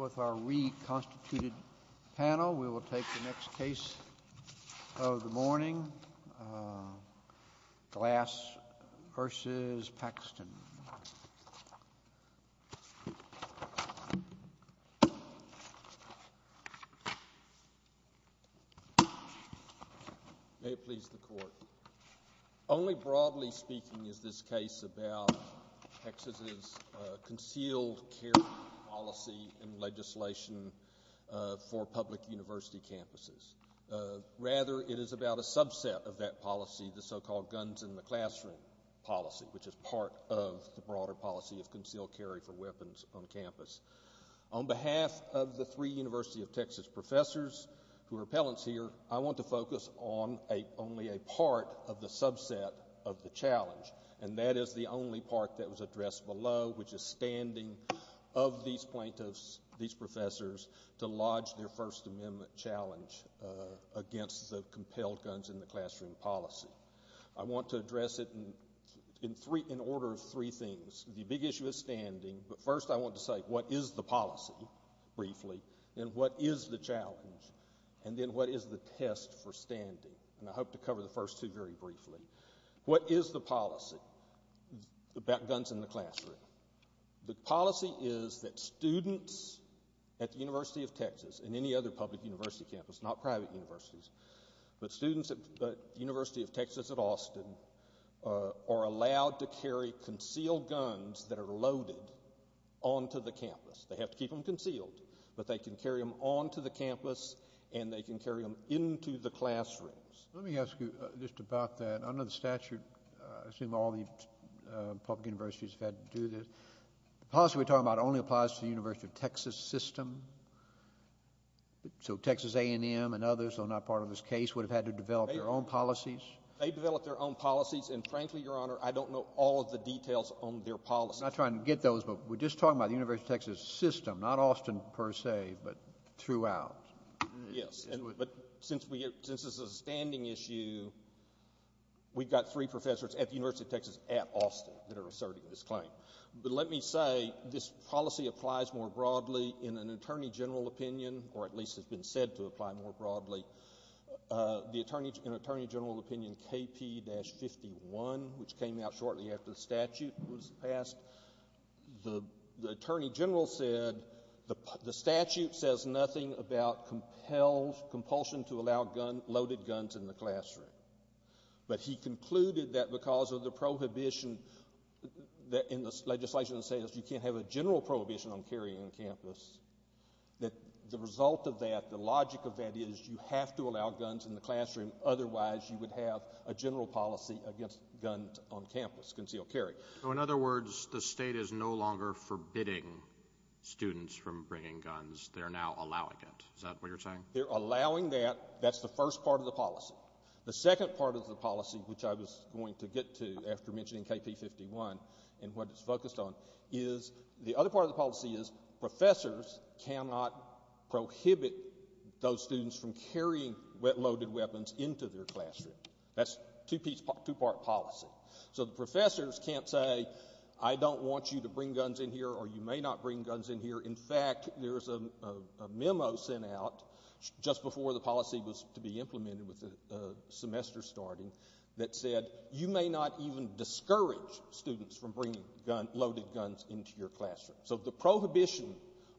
With our reconstituted panel, we will take the next case of the morning, Glass v. Paxton. May it please the Court. Only broadly speaking is this case about Texas's concealed carry policy and legislation for public university campuses. Rather, it is about a subset of that policy, the so-called guns in the classroom policy, which is part of the broader policy of concealed carry for weapons on campus. On behalf of the three University of Texas professors who are appellants here, I want to focus on only a part of the subset of the challenge. And that is the only part that was addressed below, which is standing of these plaintiffs, these professors, to lodge their First Amendment challenge against the compelled guns in the classroom policy. I want to address it in order of three things. The big issue is standing, but first I want to say what is the policy, briefly, and what is the challenge, and then what is the test for standing. And I hope to cover the first two very briefly. What is the policy about guns in the classroom? The policy is that students at the University of Texas and any other public university campus, not private universities, but students at the University of Texas at Austin, are allowed to carry concealed guns that are loaded onto the campus. They have to keep them concealed, but they can carry them onto the campus and they can carry them into the classrooms. Let me ask you just about that. Under the statute, I assume all the public universities have had to do this, the policy we're talking about only applies to the University of Texas system? So Texas A&M and others, though not part of this case, would have had to develop their own policies? They developed their own policies, and frankly, Your Honor, I don't know all of the details on their policies. I'm not trying to get those, but we're just talking about the University of Texas system, not Austin per se, but throughout. Yes, but since this is a standing issue, we've got three professors at the University of Texas at Austin that are asserting this claim. But let me say, this policy applies more broadly in an attorney general opinion, or at least has been said to apply more broadly. In an attorney general opinion, KP-51, which came out shortly after the statute was passed, the attorney general said the statute says nothing about compulsion to allow loaded guns in the classroom. But he concluded that because of the prohibition in the legislation that says you can't have a general prohibition on carrying on campus, that the result of that, the logic of that is you have to allow guns in the classroom. Otherwise, you would have a general policy against guns on campus, concealed carry. So in other words, the state is no longer forbidding students from bringing guns. They're now allowing it. Is that what you're saying? They're allowing that. That's the first part of the policy. The second part of the policy, which I was going to get to after mentioning KP-51 and what it's focused on, is the other part of the policy is professors cannot prohibit those students from carrying loaded weapons into their classroom. That's a two-part policy. So the professors can't say, I don't want you to bring guns in here, or you may not bring guns in here. In fact, there's a memo sent out just before the policy was to be implemented with the semester starting that said you may not even discourage students from bringing loaded guns into your classroom. So the prohibition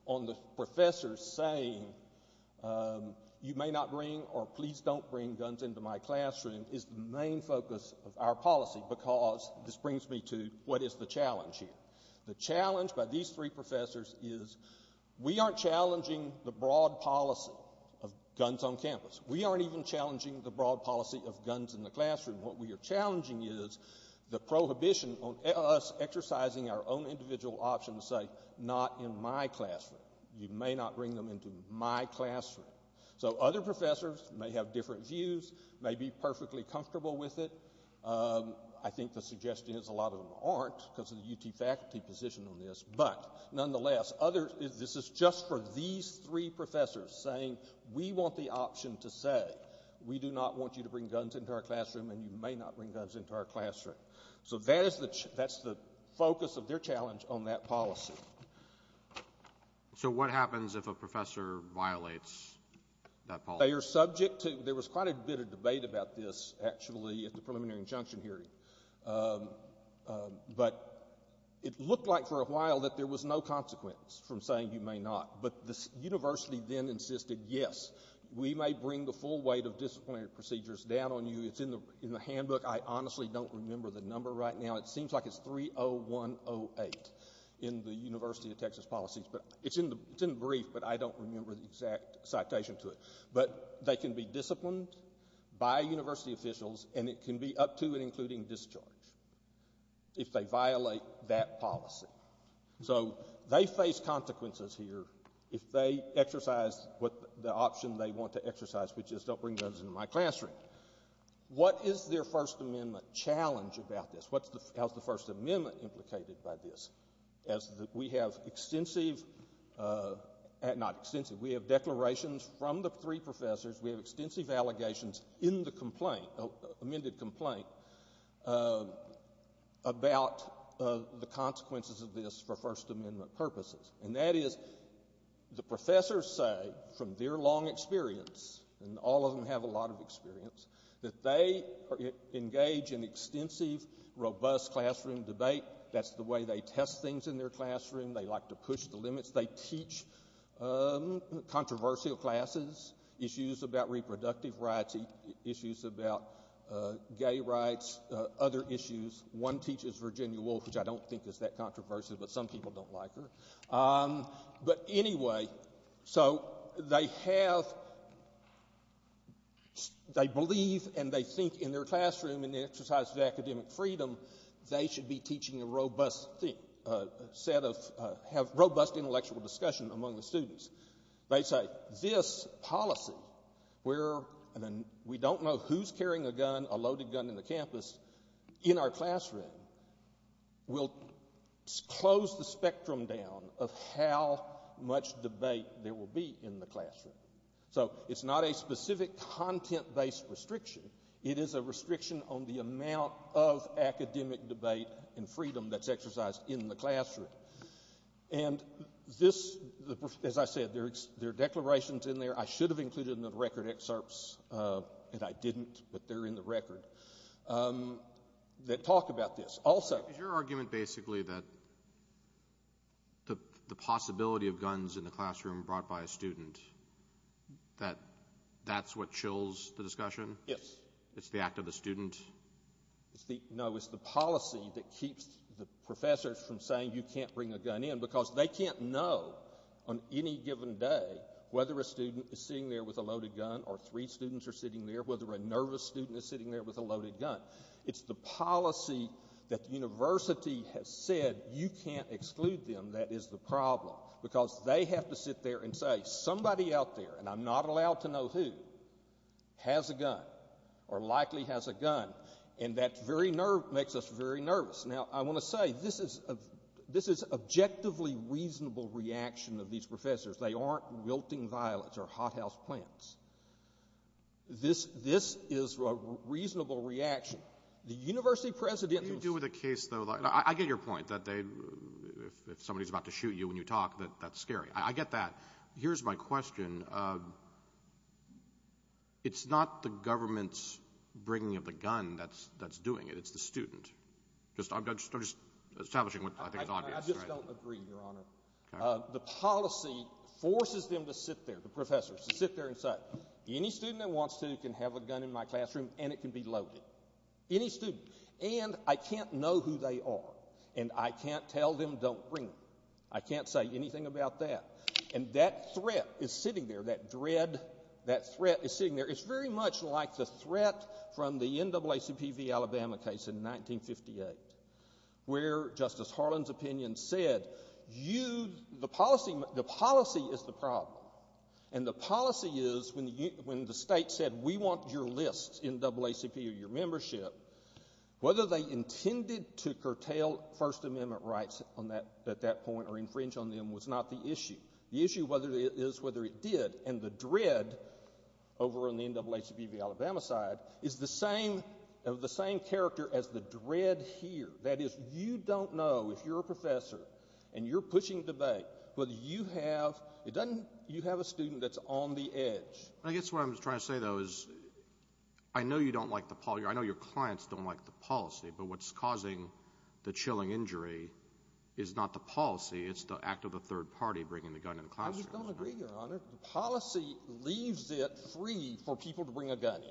on the professors saying you may not bring or please don't bring guns into my classroom is the main focus of our policy because this brings me to what is the challenge here. The challenge by these three professors is we aren't challenging the broad policy of guns on campus. We aren't even challenging the broad policy of guns in the classroom. What we are challenging is the prohibition on us exercising our own individual option to say not in my classroom. You may not bring them into my classroom. So other professors may have different views, may be perfectly comfortable with it. I think the suggestion is a lot of them aren't because of the UT faculty position on this. But nonetheless, this is just for these three professors saying we want the option to say we do not want you to bring guns into our classroom and you may not bring guns into our classroom. So that's the focus of their challenge on that policy. So what happens if a professor violates that policy? They are subject to, there was quite a bit of debate about this actually at the preliminary injunction hearing. But it looked like for a while that there was no consequence from saying you may not. But the university then insisted yes, we may bring the full weight of disciplinary procedures down on you. It's in the handbook. I honestly don't remember the number right now. It seems like it's 30108 in the University of Texas policies. It's in the brief but I don't remember the exact citation to it. But they can be disciplined by university officials and it can be up to and including discharge if they violate that policy. So they face consequences here if they exercise the option they want to exercise, which is don't bring guns into my classroom. What is their First Amendment challenge about this? How is the First Amendment implicated by this? We have declarations from the three professors. We have extensive allegations in the amended complaint about the consequences of this for First Amendment purposes. And that is the professors say from their long experience, and all of them have a lot of experience, that they engage in extensive, robust classroom debate. That's the way they test things in their classroom. They like to push the limits. They teach controversial classes, issues about reproductive rights, issues about gay rights, other issues. One teaches Virginia Woolf, which I don't think is that controversial, but some people don't like her. But anyway, so they have, they believe and they think in their classroom in the exercise of academic freedom, they should be teaching a robust set of, have robust intellectual discussion among the students. They say this policy where we don't know who's carrying a gun, a loaded gun in the campus, in our classroom, will close the spectrum down of how much debate there will be in the classroom. So it's not a specific content-based restriction. It is a restriction on the amount of academic debate and freedom that's exercised in the classroom. And this, as I said, there are declarations in there, I should have included in the record excerpts, and I didn't, but they're in the record, that talk about this. Is your argument basically that the possibility of guns in the classroom brought by a student, that that's what chills the discussion? Yes. It's the act of the student? No, it's the policy that keeps the professors from saying you can't bring a gun in because they can't know on any given day whether a student is sitting there with a loaded gun or three students are sitting there, whether a nervous student is sitting there with a loaded gun. It's the policy that the university has said you can't exclude them that is the problem because they have to sit there and say somebody out there, and I'm not allowed to know who, has a gun or likely has a gun, and that makes us very nervous. Now, I want to say this is an objectively reasonable reaction of these professors. They aren't wilting violets or hothouse plants. This is a reasonable reaction. What do you do with a case, though? I get your point that if somebody's about to shoot you when you talk, that that's scary. I get that. Here's my question. It's not the government's bringing of the gun that's doing it. It's the student. I'm just establishing what I think is obvious. I just don't agree, Your Honor. The policy forces them to sit there, the professors, to sit there and say, any student that wants to can have a gun in my classroom and it can be loaded. Any student. And I can't know who they are, and I can't tell them don't bring them. I can't say anything about that. And that threat is sitting there, that dread, that threat is sitting there. It's very much like the threat from the NAACP v. Alabama case in 1958 where Justice Harlan's opinion said, the policy is the problem. And the policy is when the state said, we want your list, NAACP, or your membership, whether they intended to curtail First Amendment rights at that point or infringe on them was not the issue. The issue is whether it did, and the dread over on the NAACP v. Alabama side is the same character as the dread here. That is, you don't know, if you're a professor and you're pushing debate, whether you have, it doesn't, you have a student that's on the edge. I guess what I'm trying to say, though, is I know you don't like the, I know your clients don't like the policy, but what's causing the chilling injury is not the policy, it's the act of a third party bringing the gun in the classroom. I just don't agree, Your Honor. The policy leaves it free for people to bring a gun in.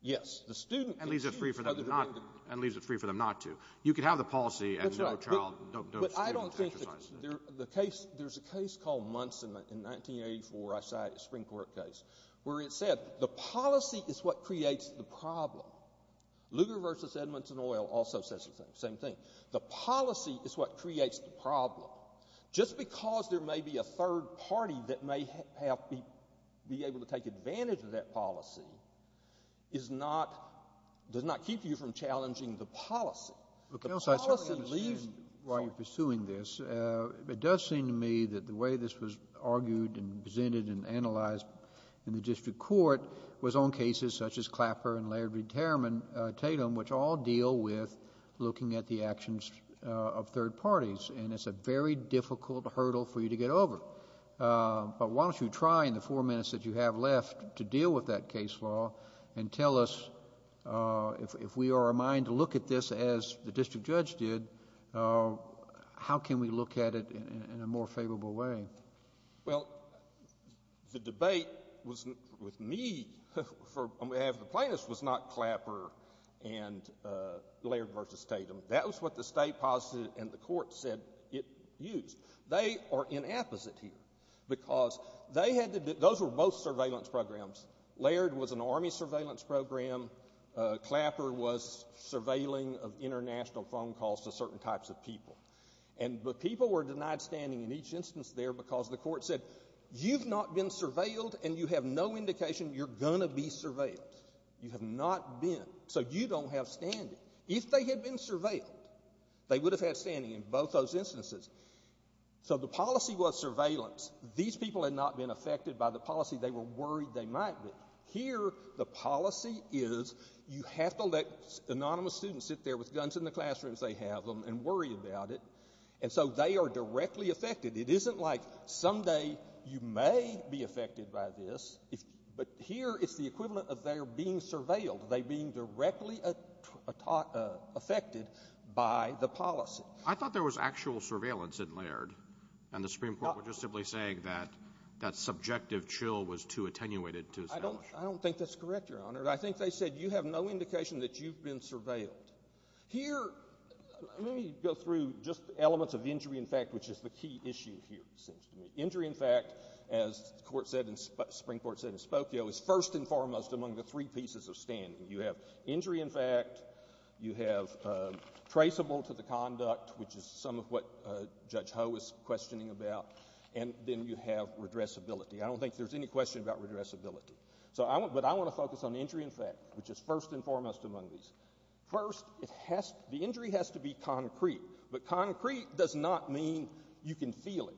Yes. The student can choose whether to bring the gun in. And leaves it free for them not to. You can have the policy and no child, no student can exercise it. That's right. But I don't think the case, there's a case called Munson in 1984, a Supreme Court case, where it said the policy is what creates the problem. Lugar v. Edmonton Oil also says the same thing. The policy is what creates the problem. Just because there may be a third party that may have, be able to take advantage of that policy is not, does not keep you from challenging the policy. The policy leaves you free. Counsel, I certainly understand why you're pursuing this. It does seem to me that the way this was argued and presented and analyzed in the district court was on cases such as Clapper and Laird v. Tatum, which all deal with looking at the actions of third parties. And it's a very difficult hurdle for you to get over. But why don't you try in the four minutes that you have left to deal with that case law and tell us if we are in mind to look at this as the district judge did, how can we look at it in a more favorable way? Well, the debate with me on behalf of the plaintiffs was not Clapper and Laird v. Tatum. That was what the state posited and the court said it used. They are inapposite here because they had to, those were both surveillance programs. Laird was an Army surveillance program. Clapper was surveilling of international phone calls to certain types of people. And the people were denied standing in each instance there because the court said, you've not been surveilled and you have no indication you're going to be surveilled. You have not been. So you don't have standing. If they had been surveilled, they would have had standing in both those instances. So the policy was surveillance. These people had not been affected by the policy. They were worried they might be. Here the policy is you have to let anonymous students sit there with guns in the classrooms they have them and worry about it. And so they are directly affected. It isn't like someday you may be affected by this. But here it's the equivalent of their being surveilled, they being directly affected by the policy. I thought there was actual surveillance in Laird. And the Supreme Court was just simply saying that subjective chill was too attenuated to establish. I don't think that's correct, Your Honor. I think they said you have no indication that you've been surveilled. Here, let me go through just elements of injury in fact, which is the key issue here, it seems to me. Injury in fact, as the Supreme Court said in Spokio, is first and foremost among the three pieces of standing. You have injury in fact, you have traceable to the conduct, which is some of what Judge Ho is questioning about, and then you have redressability. I don't think there's any question about redressability. But I want to focus on injury in fact, which is first and foremost among these. First, the injury has to be concrete. But concrete does not mean you can feel it.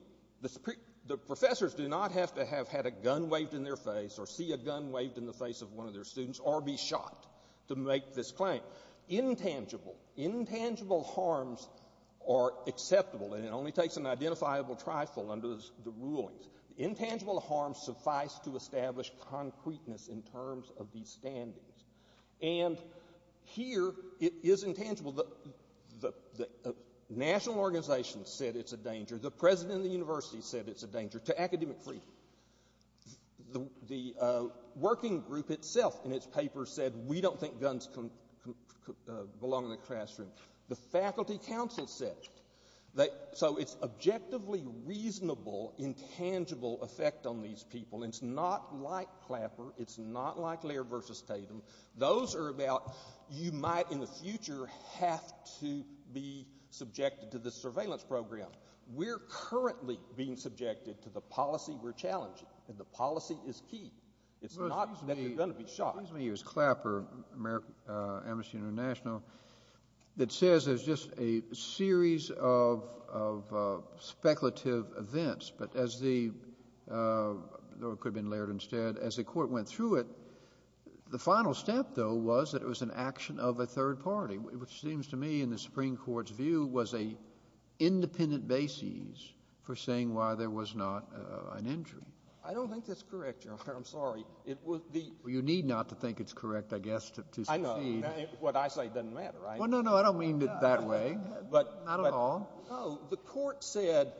The professors do not have to have had a gun waved in their face or see a gun waved in the face of one of their students or be shot to make this claim. Intangible, intangible harms are acceptable, and it only takes an identifiable trifle under the rulings. Intangible harms suffice to establish concreteness in terms of these standings. And here, it is intangible. The national organization said it's a danger. The president of the university said it's a danger to academic freedom. The working group itself in its paper said, we don't think guns belong in the classroom. The faculty council said. So it's objectively reasonable, intangible effect on these people. It's not like Clapper. It's not like Laird versus Tatum. Those are about you might in the future have to be subjected to the surveillance program. We're currently being subjected to the policy we're challenging, and the policy is key. It's not that you're going to be shot. Excuse me. It was Clapper, Amnesty International, that says there's just a series of speculative events. But as the – or it could have been Laird instead. As the court went through it, the final step, though, was that it was an action of a third party, which seems to me in the Supreme Court's view was an independent basis for saying why there was not an injury. I don't think that's correct, Your Honor. I'm sorry. You need not to think it's correct, I guess, to succeed. I know. What I say doesn't matter, right? Well, no, no. I don't mean it that way. Not at all. No. The court said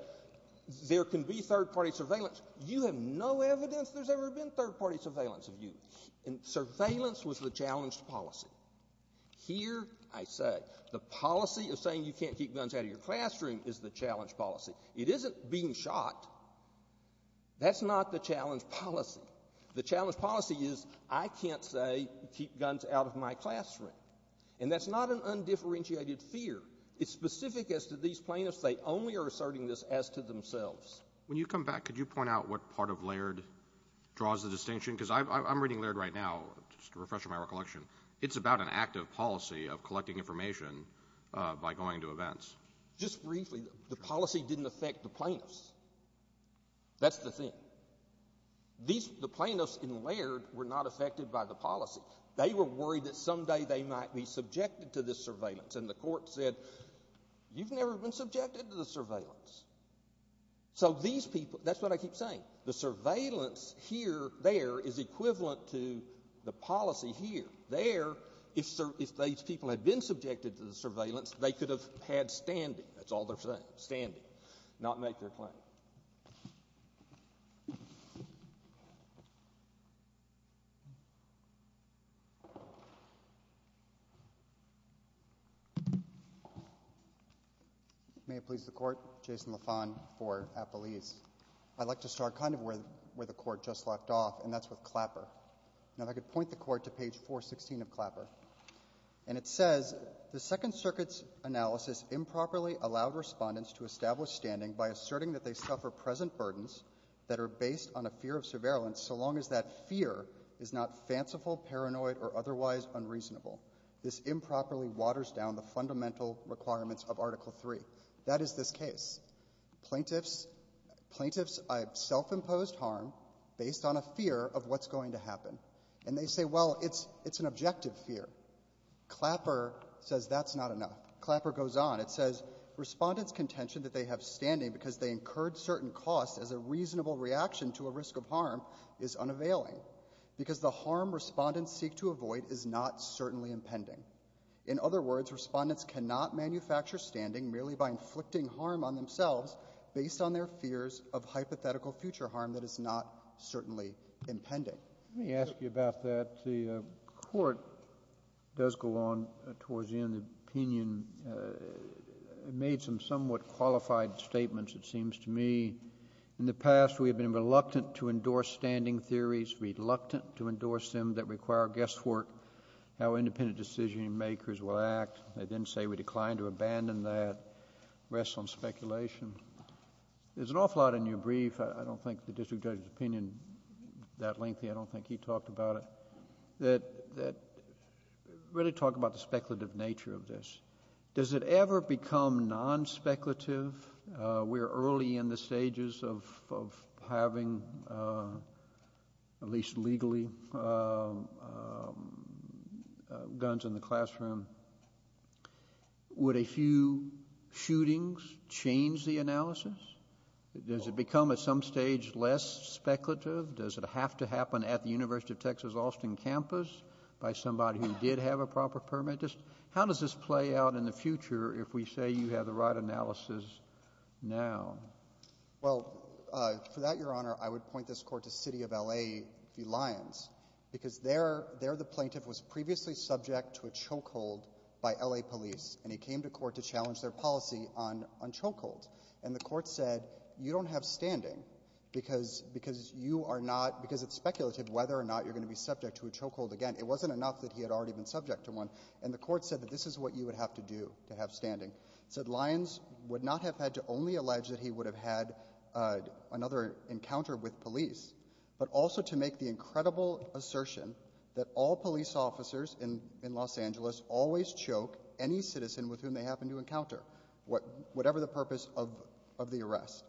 there can be third-party surveillance. You have no evidence there's ever been third-party surveillance of you. And surveillance was the challenged policy. Here I say the policy of saying you can't keep guns out of your classroom is the challenged policy. It isn't being shot. That's not the challenged policy. The challenged policy is I can't say keep guns out of my classroom. And that's not an undifferentiated fear. It's specific as to these plaintiffs, they only are asserting this as to themselves. When you come back, could you point out what part of Laird draws the distinction? Because I'm reading Laird right now, just a refresher in my recollection. It's about an active policy of collecting information by going to events. Just briefly, the policy didn't affect the plaintiffs. That's the thing. The plaintiffs in Laird were not affected by the policy. They were worried that someday they might be subjected to this surveillance. And the court said you've never been subjected to the surveillance. So these people, that's what I keep saying. The surveillance here, there, is equivalent to the policy here. There, if these people had been subjected to the surveillance, they could have had standing. That's all they're saying, standing, not make their claim. May it please the Court. Jason Lafon for Appalese. I'd like to start kind of where the Court just left off, and that's with Clapper. Now, if I could point the Court to page 416 of Clapper. And it says, The Second Circuit's analysis improperly allowed Respondents to establish standing by asserting that they suffer present burdens that are based on a fear of surveillance so long as that fear is not fanciful, paranoid, or otherwise unreasonable. This improperly waters down the fundamental requirements of Article III. That is this case. Plaintiffs self-imposed harm based on a fear of what's going to happen. And they say, well, it's an objective fear. Clapper says that's not enough. Clapper goes on. It says, Respondents' contention that they have standing because they incurred certain costs as a reasonable reaction to a risk of harm is unavailing because the harm Respondents seek to avoid is not certainly impending. In other words, Respondents cannot manufacture standing merely by inflicting harm on themselves based on their fears of hypothetical future harm that is not certainly impending. Let me ask you about that. The Court does go on towards the end of the opinion. It made some somewhat qualified statements, it seems to me. In the past, we have been reluctant to endorse standing theories, reluctant to endorse them that require guesswork, how independent decision-makers will act. They then say we decline to abandon that. Rests on speculation. There's an awful lot in your brief. I don't think the district judge's opinion is that lengthy. I don't think he talked about it. Really talk about the speculative nature of this. Does it ever become nonspeculative? We're early in the stages of having, at least legally, guns in the classroom. Would a few shootings change the analysis? Does it become at some stage less speculative? Does it have to happen at the University of Texas, Austin campus by somebody who did have a proper permit? How does this play out in the future if we say you have the right analysis now? Well, for that, Your Honor, I would point this Court to City of L.A. v. Lyons because there the plaintiff was previously subject to a chokehold by L.A. police, and he came to court to challenge their policy on chokeholds. And the Court said you don't have standing because you are not — because it's speculative whether or not you're going to be subject to a chokehold again. It wasn't enough that he had already been subject to one. And the Court said that this is what you would have to do to have standing. It said Lyons would not have had to only allege that he would have had another encounter with police, but also to make the incredible assertion that all police officers in Los Angeles always choke any citizen with whom they happen to encounter, whatever the purpose of the arrest.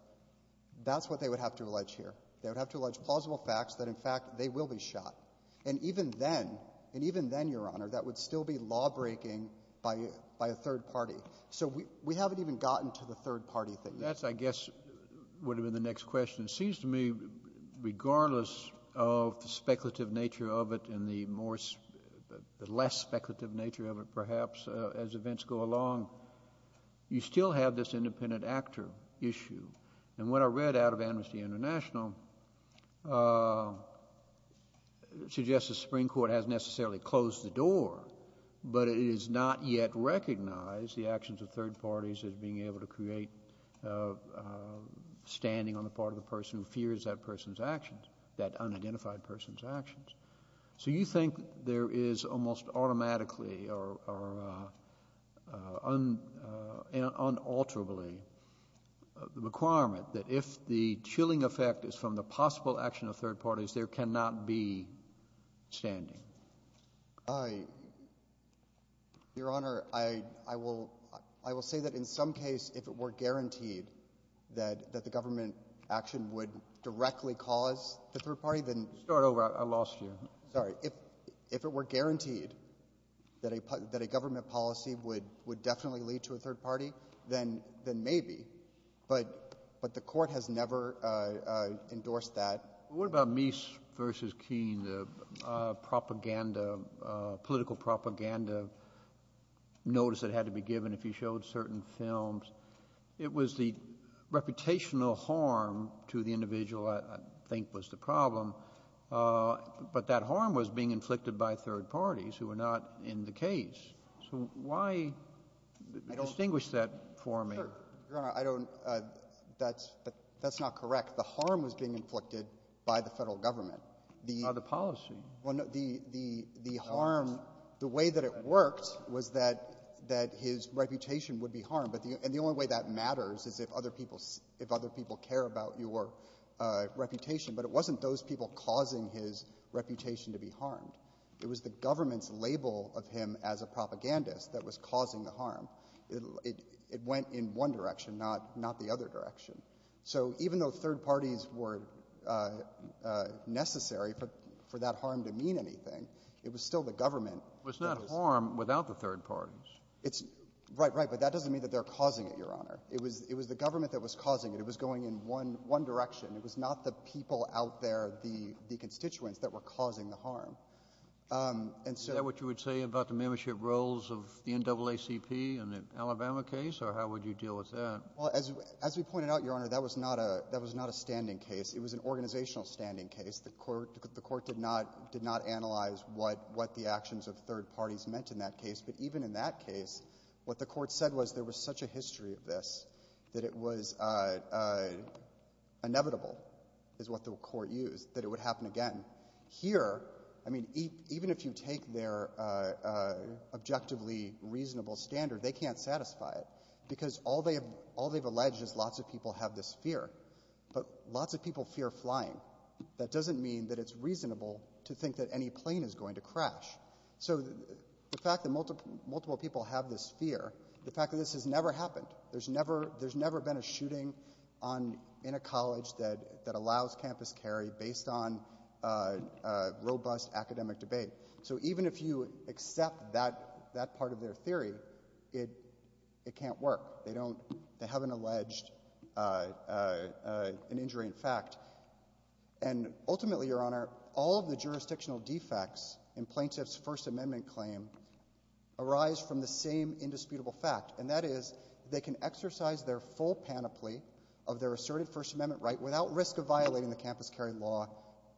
That's what they would have to allege here. They would have to allege plausible facts that, in fact, they will be shot. And even then, and even then, Your Honor, that would still be lawbreaking by a third party. So we haven't even gotten to the third-party thing. That, I guess, would have been the next question. It seems to me, regardless of the speculative nature of it and the more — the less speculative nature of it, perhaps, as events go along, you still have this independent actor issue. And what I read out of Amnesty International suggests the Supreme Court hasn't necessarily closed the door, but it has not yet recognized the actions of third parties as being able to create standing on the part of the person who fears that person's actions, that unidentified person's actions. So you think there is almost automatically or unalterably the requirement that if the chilling effect is from the possible action of third parties, there cannot be standing? Your Honor, I will say that in some case, if it were guaranteed that the government action would directly cause the third party, then — Start over. I lost you. Sorry. If it were guaranteed that a government policy would definitely lead to a third party, then maybe. But the Court has never endorsed that. What about Meese v. Keene, the propaganda, political propaganda notice that had to be given if you showed certain films? It was the reputational harm to the individual, I think, was the problem. But that harm was being inflicted by third parties who were not in the case. So why distinguish that for me? Sure. Your Honor, I don't — that's not correct. The harm was being inflicted by the Federal government. By the policy. Well, no. The harm — the way that it worked was that his reputation would be harmed. And the only way that matters is if other people care about your reputation. But it wasn't those people causing his reputation to be harmed. It was the government's label of him as a propagandist that was causing the harm. It went in one direction, not the other direction. So even though third parties were necessary for that harm to mean anything, it was still the government. It was not harm without the third parties. It's — right, right. But that doesn't mean that they're causing it, Your Honor. It was the government that was causing it. It was going in one direction. It was not the people out there, the constituents that were causing the harm. And so — Is that what you would say about the membership roles of the NAACP in the Alabama case, or how would you deal with that? Well, as we pointed out, Your Honor, that was not a — that was not a standing case. It was an organizational standing case. The court — the court did not — did not analyze what — what the actions of third parties meant in that case. But even in that case, what the court said was there was such a history of this that it was inevitable, is what the court used, that it would happen again. Here, I mean, even if you take their objectively reasonable standard, they can't satisfy it because all they have — all they've alleged is lots of people have this fear. But lots of people fear flying. That doesn't mean that it's reasonable to think that any plane is going to crash. So the fact that multiple people have this fear, the fact that this has never been a shooting on — in a college that — that allows campus carry based on robust academic debate. So even if you accept that — that part of their theory, it — it can't work. They don't — they haven't alleged an injury in fact. And ultimately, Your Honor, all of the jurisdictional defects in plaintiff's First Amendment claim arise from the same indisputable fact, and that is they can exercise their full panoply of their asserted First Amendment right without risk of violating the campus carry law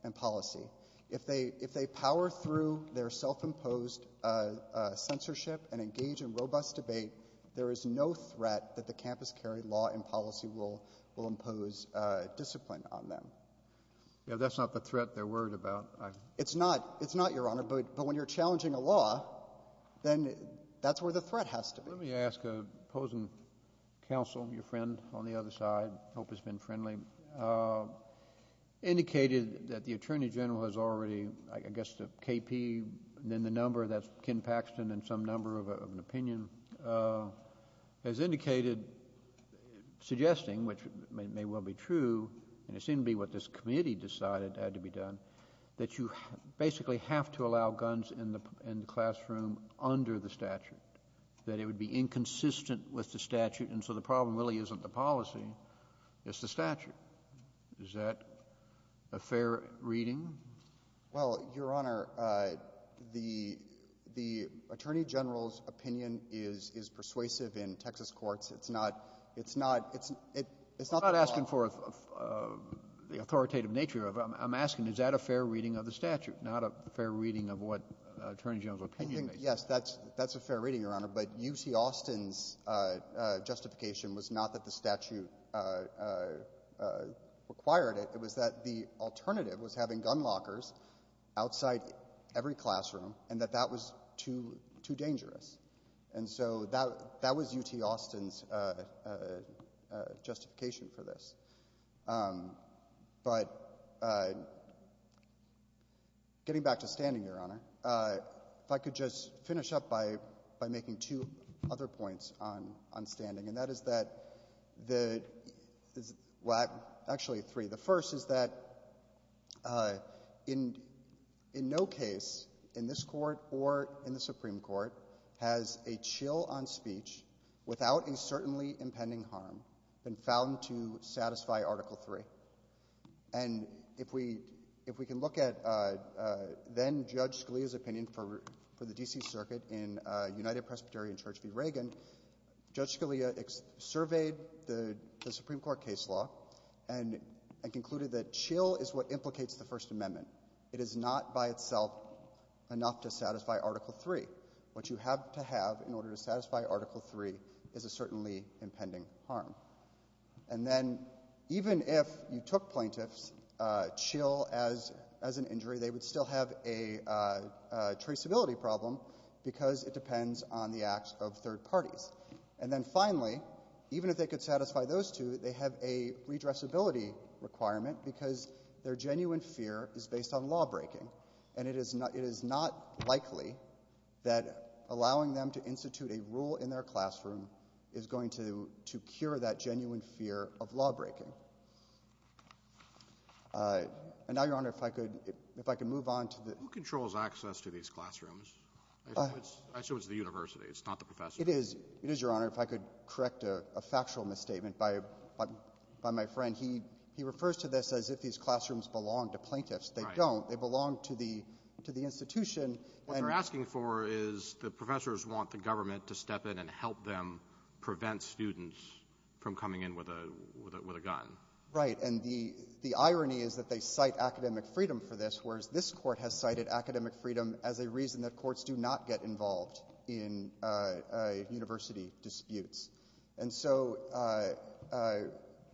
and policy. If they — if they power through their self-imposed censorship and engage in robust debate, there is no threat that the campus carry law and policy will impose discipline on them. Yeah, that's not the threat they're worried about. It's not. It's not, Your Honor. Let me ask a opposing counsel, your friend on the other side, I hope has been friendly, indicated that the Attorney General has already, I guess the KP and then the number, that's Ken Paxton and some number of an opinion, has indicated, suggesting, which may well be true, and it seemed to be what this committee decided had to be done, that you basically have to allow guns in the classroom under the statute, that it would be inconsistent with the statute. And so the problem really isn't the policy, it's the statute. Is that a fair reading? Well, Your Honor, the Attorney General's opinion is persuasive in Texas courts. It's not — it's not — it's not the law. I'm not asking for the authoritative nature of it. I'm asking, is that a fair reading of the statute, not a fair reading of what the Attorney General's opinion is? Yes, that's a fair reading, Your Honor. But UT Austin's justification was not that the statute required it. It was that the alternative was having gun lockers outside every classroom and that that was too dangerous. And so that was UT Austin's justification for this. But getting back to standing, Your Honor, if I could just finish up by making two other points on standing, and that is that — well, actually three. The first is that in no case in this Court or in the Supreme Court has a chill on speech without a certainly impending harm been found to satisfy Article III. And if we — if we can look at then-Judge Scalia's opinion for the D.C. Circuit in United Presbyterian Church v. Reagan, Judge Scalia surveyed the Supreme Court case law and concluded that chill is what implicates the First Amendment. It is not by itself enough to satisfy Article III. What you have to have in order to satisfy Article III is a certainly impending harm. And then even if you took plaintiffs' chill as an injury, they would still have a traceability problem because it depends on the acts of third parties. And then finally, even if they could satisfy those two, they have a redressability requirement because their genuine fear is based on lawbreaking. And it is not — it is not likely that allowing them to institute a rule in their classroom is going to cure that genuine fear of lawbreaking. And now, Your Honor, if I could — if I could move on to the — Who controls access to these classrooms? I assume it's the university. It's not the professors. It is. It is, Your Honor. If I could correct a factual misstatement by my friend. He refers to this as if these classrooms belong to plaintiffs. They don't. They belong to the — to the institution. And — What they're asking for is the professors want the government to step in and help them prevent students from coming in with a — with a gun. Right. And the — the irony is that they cite academic freedom for this, whereas this Court has cited academic freedom as a reason that courts do not get involved in university disputes. And so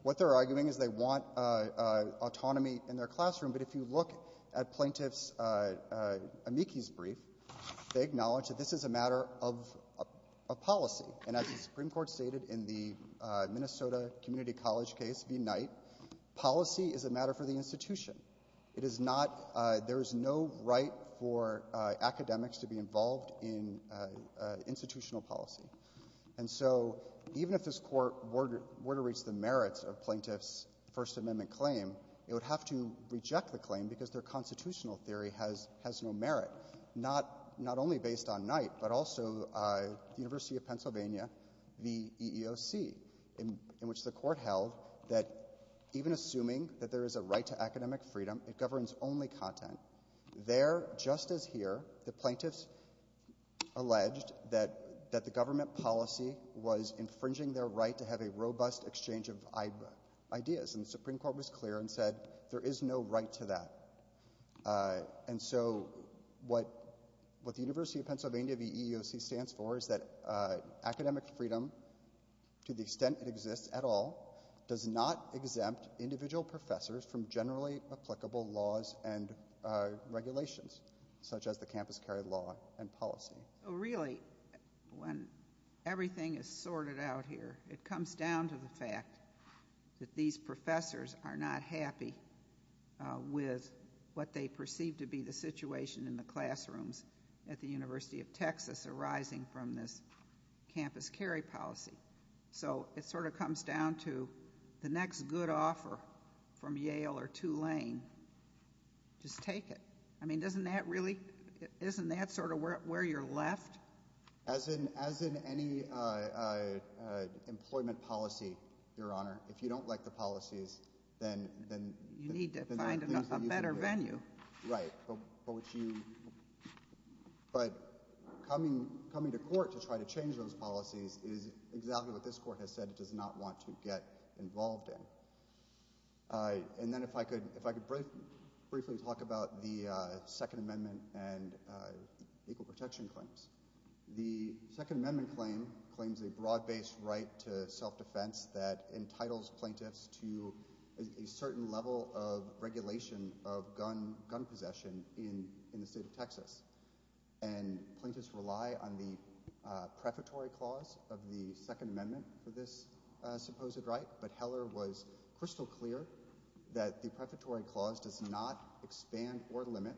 what they're arguing is they want autonomy in their classroom. But if you look at plaintiffs' amicus brief, they acknowledge that this is a matter of a policy. And as the Supreme Court stated in the Minnesota Community College case v. Knight, policy is a matter for the institution. It is not — there is no right for academics to be involved in institutional policy. And so even if this Court were to — were to reach the merits of plaintiffs' First Amendment claim, it would have to reject the claim because their constitutional theory has — has no merit, not — not only based on Knight, but also the University of Pennsylvania v. EEOC, in which the Court held that even assuming that there is a right to academic freedom, it governs only content. There, just as here, the plaintiffs alleged that — that the government policy was clear and said there is no right to that. And so what — what the University of Pennsylvania v. EEOC stands for is that academic freedom, to the extent it exists at all, does not exempt individual professors from generally applicable laws and regulations, such as the campus carry law and policy. So really, when everything is sorted out here, it comes down to the fact that these professors are not happy with what they perceive to be the situation in the classrooms at the University of Texas arising from this campus carry policy. So it sort of comes down to the next good offer from Yale or Tulane, just take it. I mean, doesn't that really — isn't that sort of where you're left? As in — as in any employment policy, Your Honor. If you don't like the policies, then — You need to find a better venue. Right. But what you — but coming — coming to court to try to change those policies is exactly what this Court has said it does not want to get involved in. And then if I could — if I could briefly talk about the Second Amendment and equal protection claims. The Second Amendment claim claims a broad-based right to self-defense that entitles plaintiffs to a certain level of regulation of gun possession in the state of Texas. And plaintiffs rely on the prefatory clause of the Second Amendment for this supposed right. But Heller was crystal clear that the prefatory clause does not expand or limit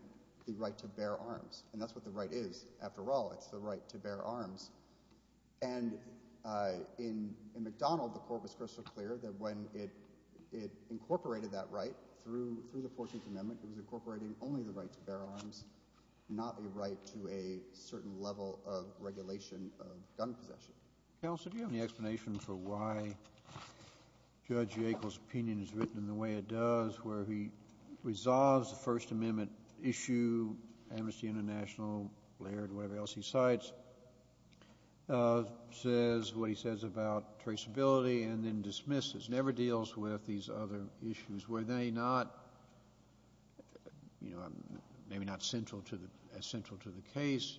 the right to bear arms. And that's what the right is. After all, it's the right to bear arms. And in McDonald, the Court was crystal clear that when it incorporated that right through the 14th Amendment, it was incorporating only the right to bear arms, not the right to a certain level of regulation of gun possession. Counsel, do you have any explanation for why Judge Yackel's opinion is written in the way it does, where he resolves the First Amendment issue, Amnesty International, Laird, whatever else he cites, says what he says about traceability and then dismisses, never deals with these other issues? Were they not, you know, maybe not central to the — as central to the case?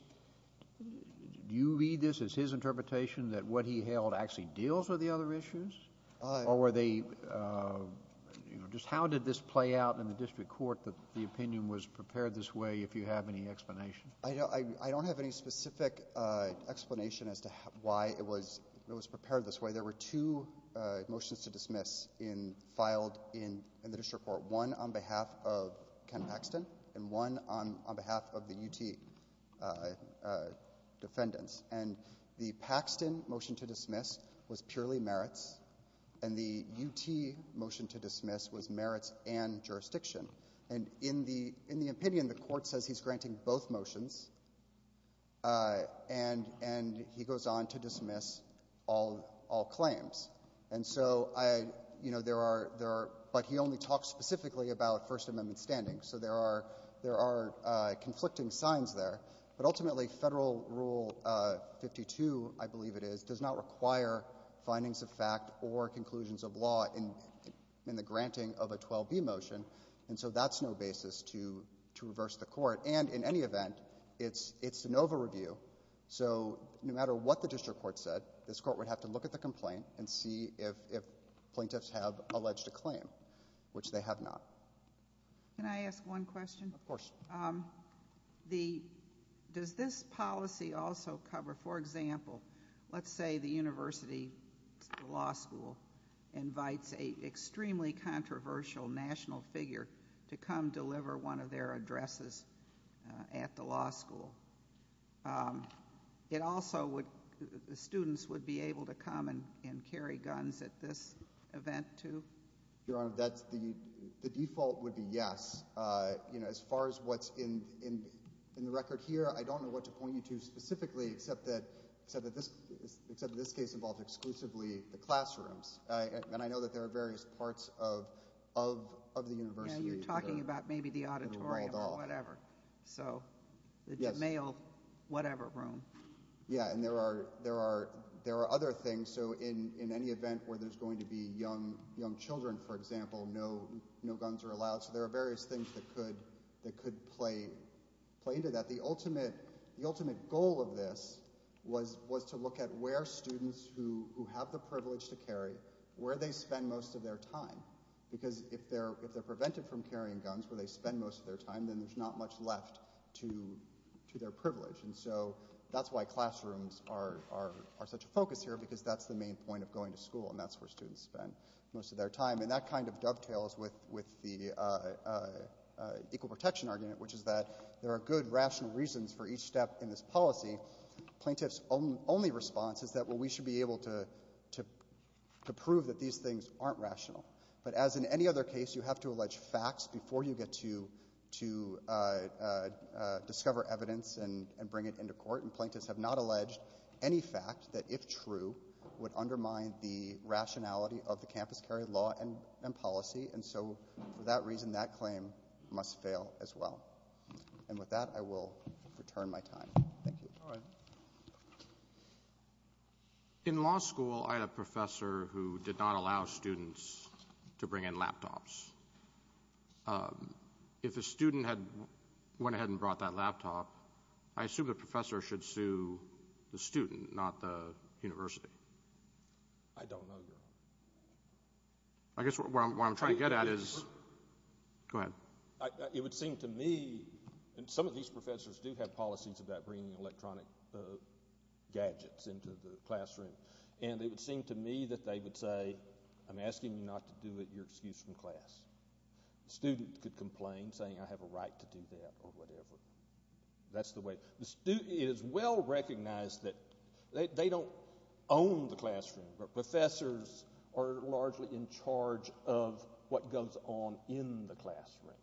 Do you read this as his interpretation that what he held actually deals with the other issues? Or were they — just how did this play out in the district court that the opinion was prepared this way, if you have any explanation? I don't have any specific explanation as to why it was prepared this way. There were two motions to dismiss in — filed in the district court, one on behalf of defendants, and the Paxton motion to dismiss was purely merits, and the UT motion to dismiss was merits and jurisdiction. And in the opinion, the court says he's granting both motions, and he goes on to dismiss all claims. And so, you know, there are — but he only talks specifically about First Amendment standings, so there are — there are conflicting signs there. But ultimately, Federal Rule 52, I believe it is, does not require findings of fact or conclusions of law in the granting of a 12B motion, and so that's no basis to reverse the court. And in any event, it's an over-review, so no matter what the district court said, this court would have to look at the complaint and see if plaintiffs have alleged a claim, which they have not. Can I ask one question? Of course. The — does this policy also cover — for example, let's say the university, the law school, invites an extremely controversial national figure to come deliver one of their addresses at the law school. It also would — the students would be able to come and carry guns at this event, too? Your Honor, that's the — the default would be yes. You know, as far as what's in the record here, I don't know what to point you to specifically except that — except that this case involves exclusively the classrooms. And I know that there are various parts of the university that are — Yeah, you're talking about maybe the auditorium or whatever. — that are rolled off. So the male whatever room. Yeah, and there are — there are other things. So in any event where there's going to be young children, for example, no guns are allowed. So there are various things that could play into that. The ultimate goal of this was to look at where students who have the privilege to carry, where they spend most of their time. Because if they're prevented from carrying guns where they spend most of their time, then there's not much left to their privilege. And so that's why classrooms are such a focus here, because that's the main point of going to school, and that's where students spend most of their time. And that kind of dovetails with the equal protection argument, which is that there are good rational reasons for each step in this policy. Plaintiffs' only response is that, well, we should be able to prove that these things aren't rational. But as in any other case, you have to allege facts before you get to discover evidence and bring it into court. And plaintiffs have not alleged any fact that, if true, would undermine the rationality of the campus carry law and policy. And so for that reason, that claim must fail as well. And with that, I will return my time. Thank you. All right. In law school, I had a professor who did not allow students to bring in laptops. If a student had went ahead and brought that laptop, I assume the professor should sue the student, not the university. I don't know, Your Honor. I guess what I'm trying to get at is – go ahead. It would seem to me – and some of these professors do have policies about bringing electronic gadgets into the classroom. And it would seem to me that they would say, I'm asking you not to do it. You're excused from class. The student could complain, saying, I have a right to do that or whatever. That's the way – it is well recognized that they don't own the classroom. But professors are largely in charge of what goes on in the classroom.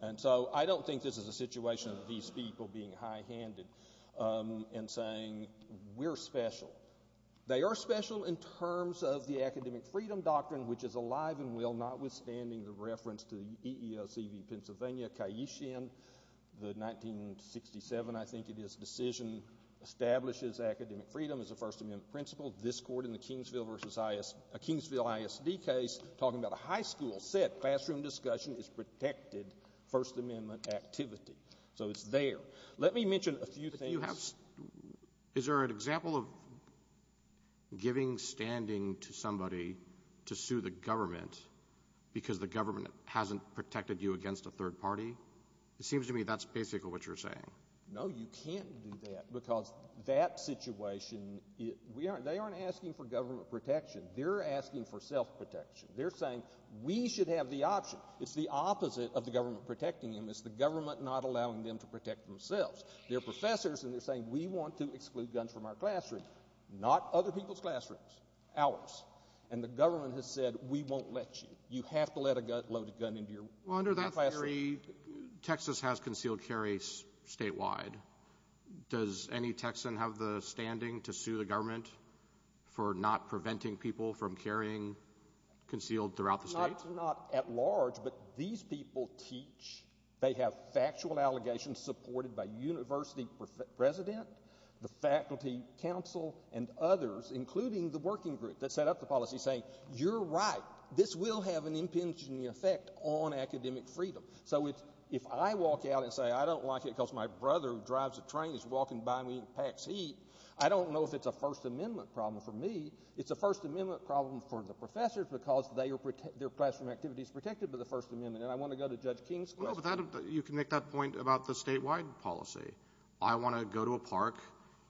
And so I don't think this is a situation of these people being high-handed and saying, we're special. They are special in terms of the academic freedom doctrine, which is alive and well, notwithstanding the reference to the EEOCV Pennsylvania, the 1967, I think it is, decision establishes academic freedom as a First Amendment principle. This court in the Kingsville vs. – a Kingsville ISD case talking about a high school said classroom discussion is protected First Amendment activity. So it's there. Let me mention a few things. Is there an example of giving standing to somebody to sue the government because the government hasn't protected you against a third party? It seems to me that's basically what you're saying. No, you can't do that because that situation – they aren't asking for government protection. They're asking for self-protection. They're saying we should have the option. It's the opposite of the government protecting them. It's the government not allowing them to protect themselves. They're professors and they're saying we want to exclude guns from our classroom, not other people's classrooms, ours. And the government has said we won't let you. You have to let a loaded gun into your classroom. Well, under that theory, Texas has concealed carry statewide. Does any Texan have the standing to sue the government for not preventing people from carrying concealed throughout the state? Not at large, but these people teach. They have factual allegations supported by university president, the faculty council, and others, including the working group that set up the policy, saying you're right. This will have an impinging effect on academic freedom. So if I walk out and say I don't like it because my brother who drives a train is walking by me and packs heat, I don't know if it's a First Amendment problem for me. It's a First Amendment problem for the professors because their classroom activity is protected by the First Amendment. And I want to go to Judge King's question. You can make that point about the statewide policy. I want to go to a park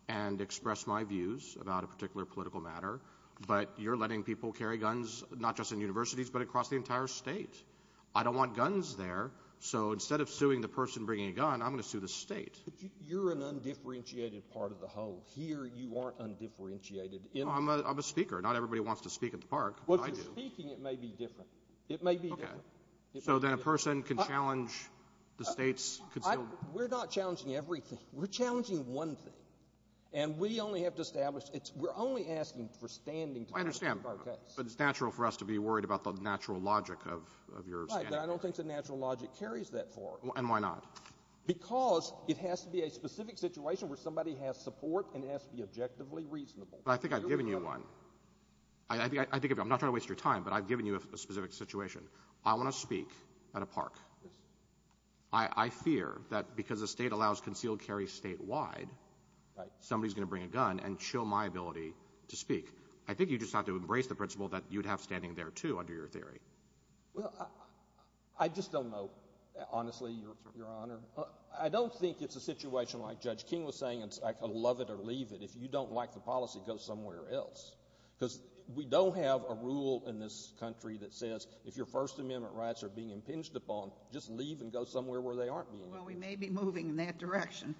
and express my views about a particular political matter, but you're letting people carry guns not just in universities but across the entire state. I don't want guns there, so instead of suing the person bringing a gun, I'm going to sue the state. But you're an undifferentiated part of the whole. Here you aren't undifferentiated. I'm a speaker. Not everybody wants to speak at the park, but I do. Well, if you're speaking, it may be different. Okay. So then a person can challenge the state's concealment? We're not challenging everything. We're challenging one thing. And we only have to establish it's we're only asking for standing to protect our case. I understand, but it's natural for us to be worried about the natural logic of your standing. Right, but I don't think the natural logic carries that far. And why not? Because it has to be a specific situation where somebody has support and it has to be objectively reasonable. But I think I've given you one. I'm not trying to waste your time, but I've given you a specific situation. I want to speak at a park. I fear that because the state allows concealed carry statewide, somebody's going to bring a gun and show my ability to speak. I think you just have to embrace the principle that you'd have standing there, too, under your theory. Well, I just don't know, honestly, Your Honor. I don't think it's a situation like Judge King was saying, I could love it or leave it. If you don't like the policy, go somewhere else. Because we don't have a rule in this country that says if your First Amendment rights are being impinged upon, just leave and go somewhere where they aren't being. Well, we may be moving in that direction.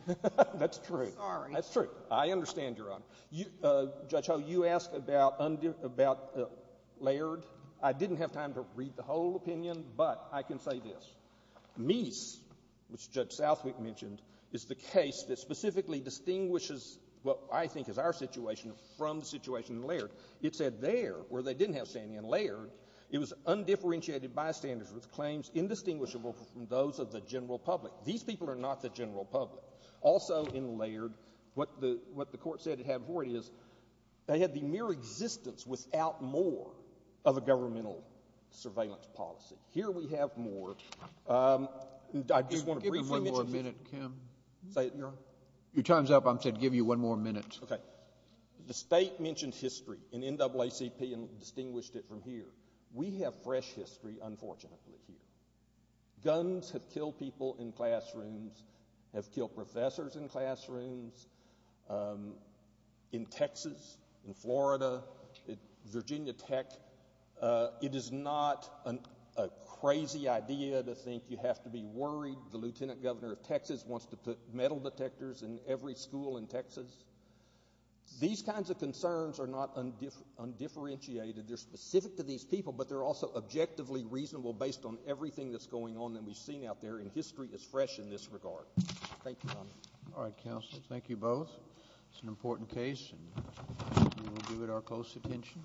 That's true. Sorry. That's true. I understand, Your Honor. Judge Ho, you asked about layered. I didn't have time to read the whole opinion, but I can say this. Mies, which Judge Southwick mentioned, is the case that specifically distinguishes what I think is our situation from the situation in layered. It said there, where they didn't have standing in layered, it was undifferentiated bystanders with claims indistinguishable from those of the general public. These people are not the general public. Also in layered, what the Court said it had before it is they had the mere existence without more of a governmental surveillance policy. Here we have more. I just want to briefly mention this. Give him one more minute, Kim. Say it, Your Honor. Your time's up. I said give you one more minute. Okay. The state mentioned history in NAACP and distinguished it from here. We have fresh history, unfortunately, here. Guns have killed people in classrooms, have killed professors in classrooms. In Texas, in Florida, at Virginia Tech, it is not a crazy idea to think you have to be worried the lieutenant governor of Texas wants to put metal detectors in every school in Texas. These kinds of concerns are not undifferentiated. They're specific to these people, but they're also objectively reasonable based on everything that's going on that we've seen out there, and history is fresh in this regard. Thank you, Your Honor. All right, counsel. Thank you both. It's an important case, and we will give it our close attention.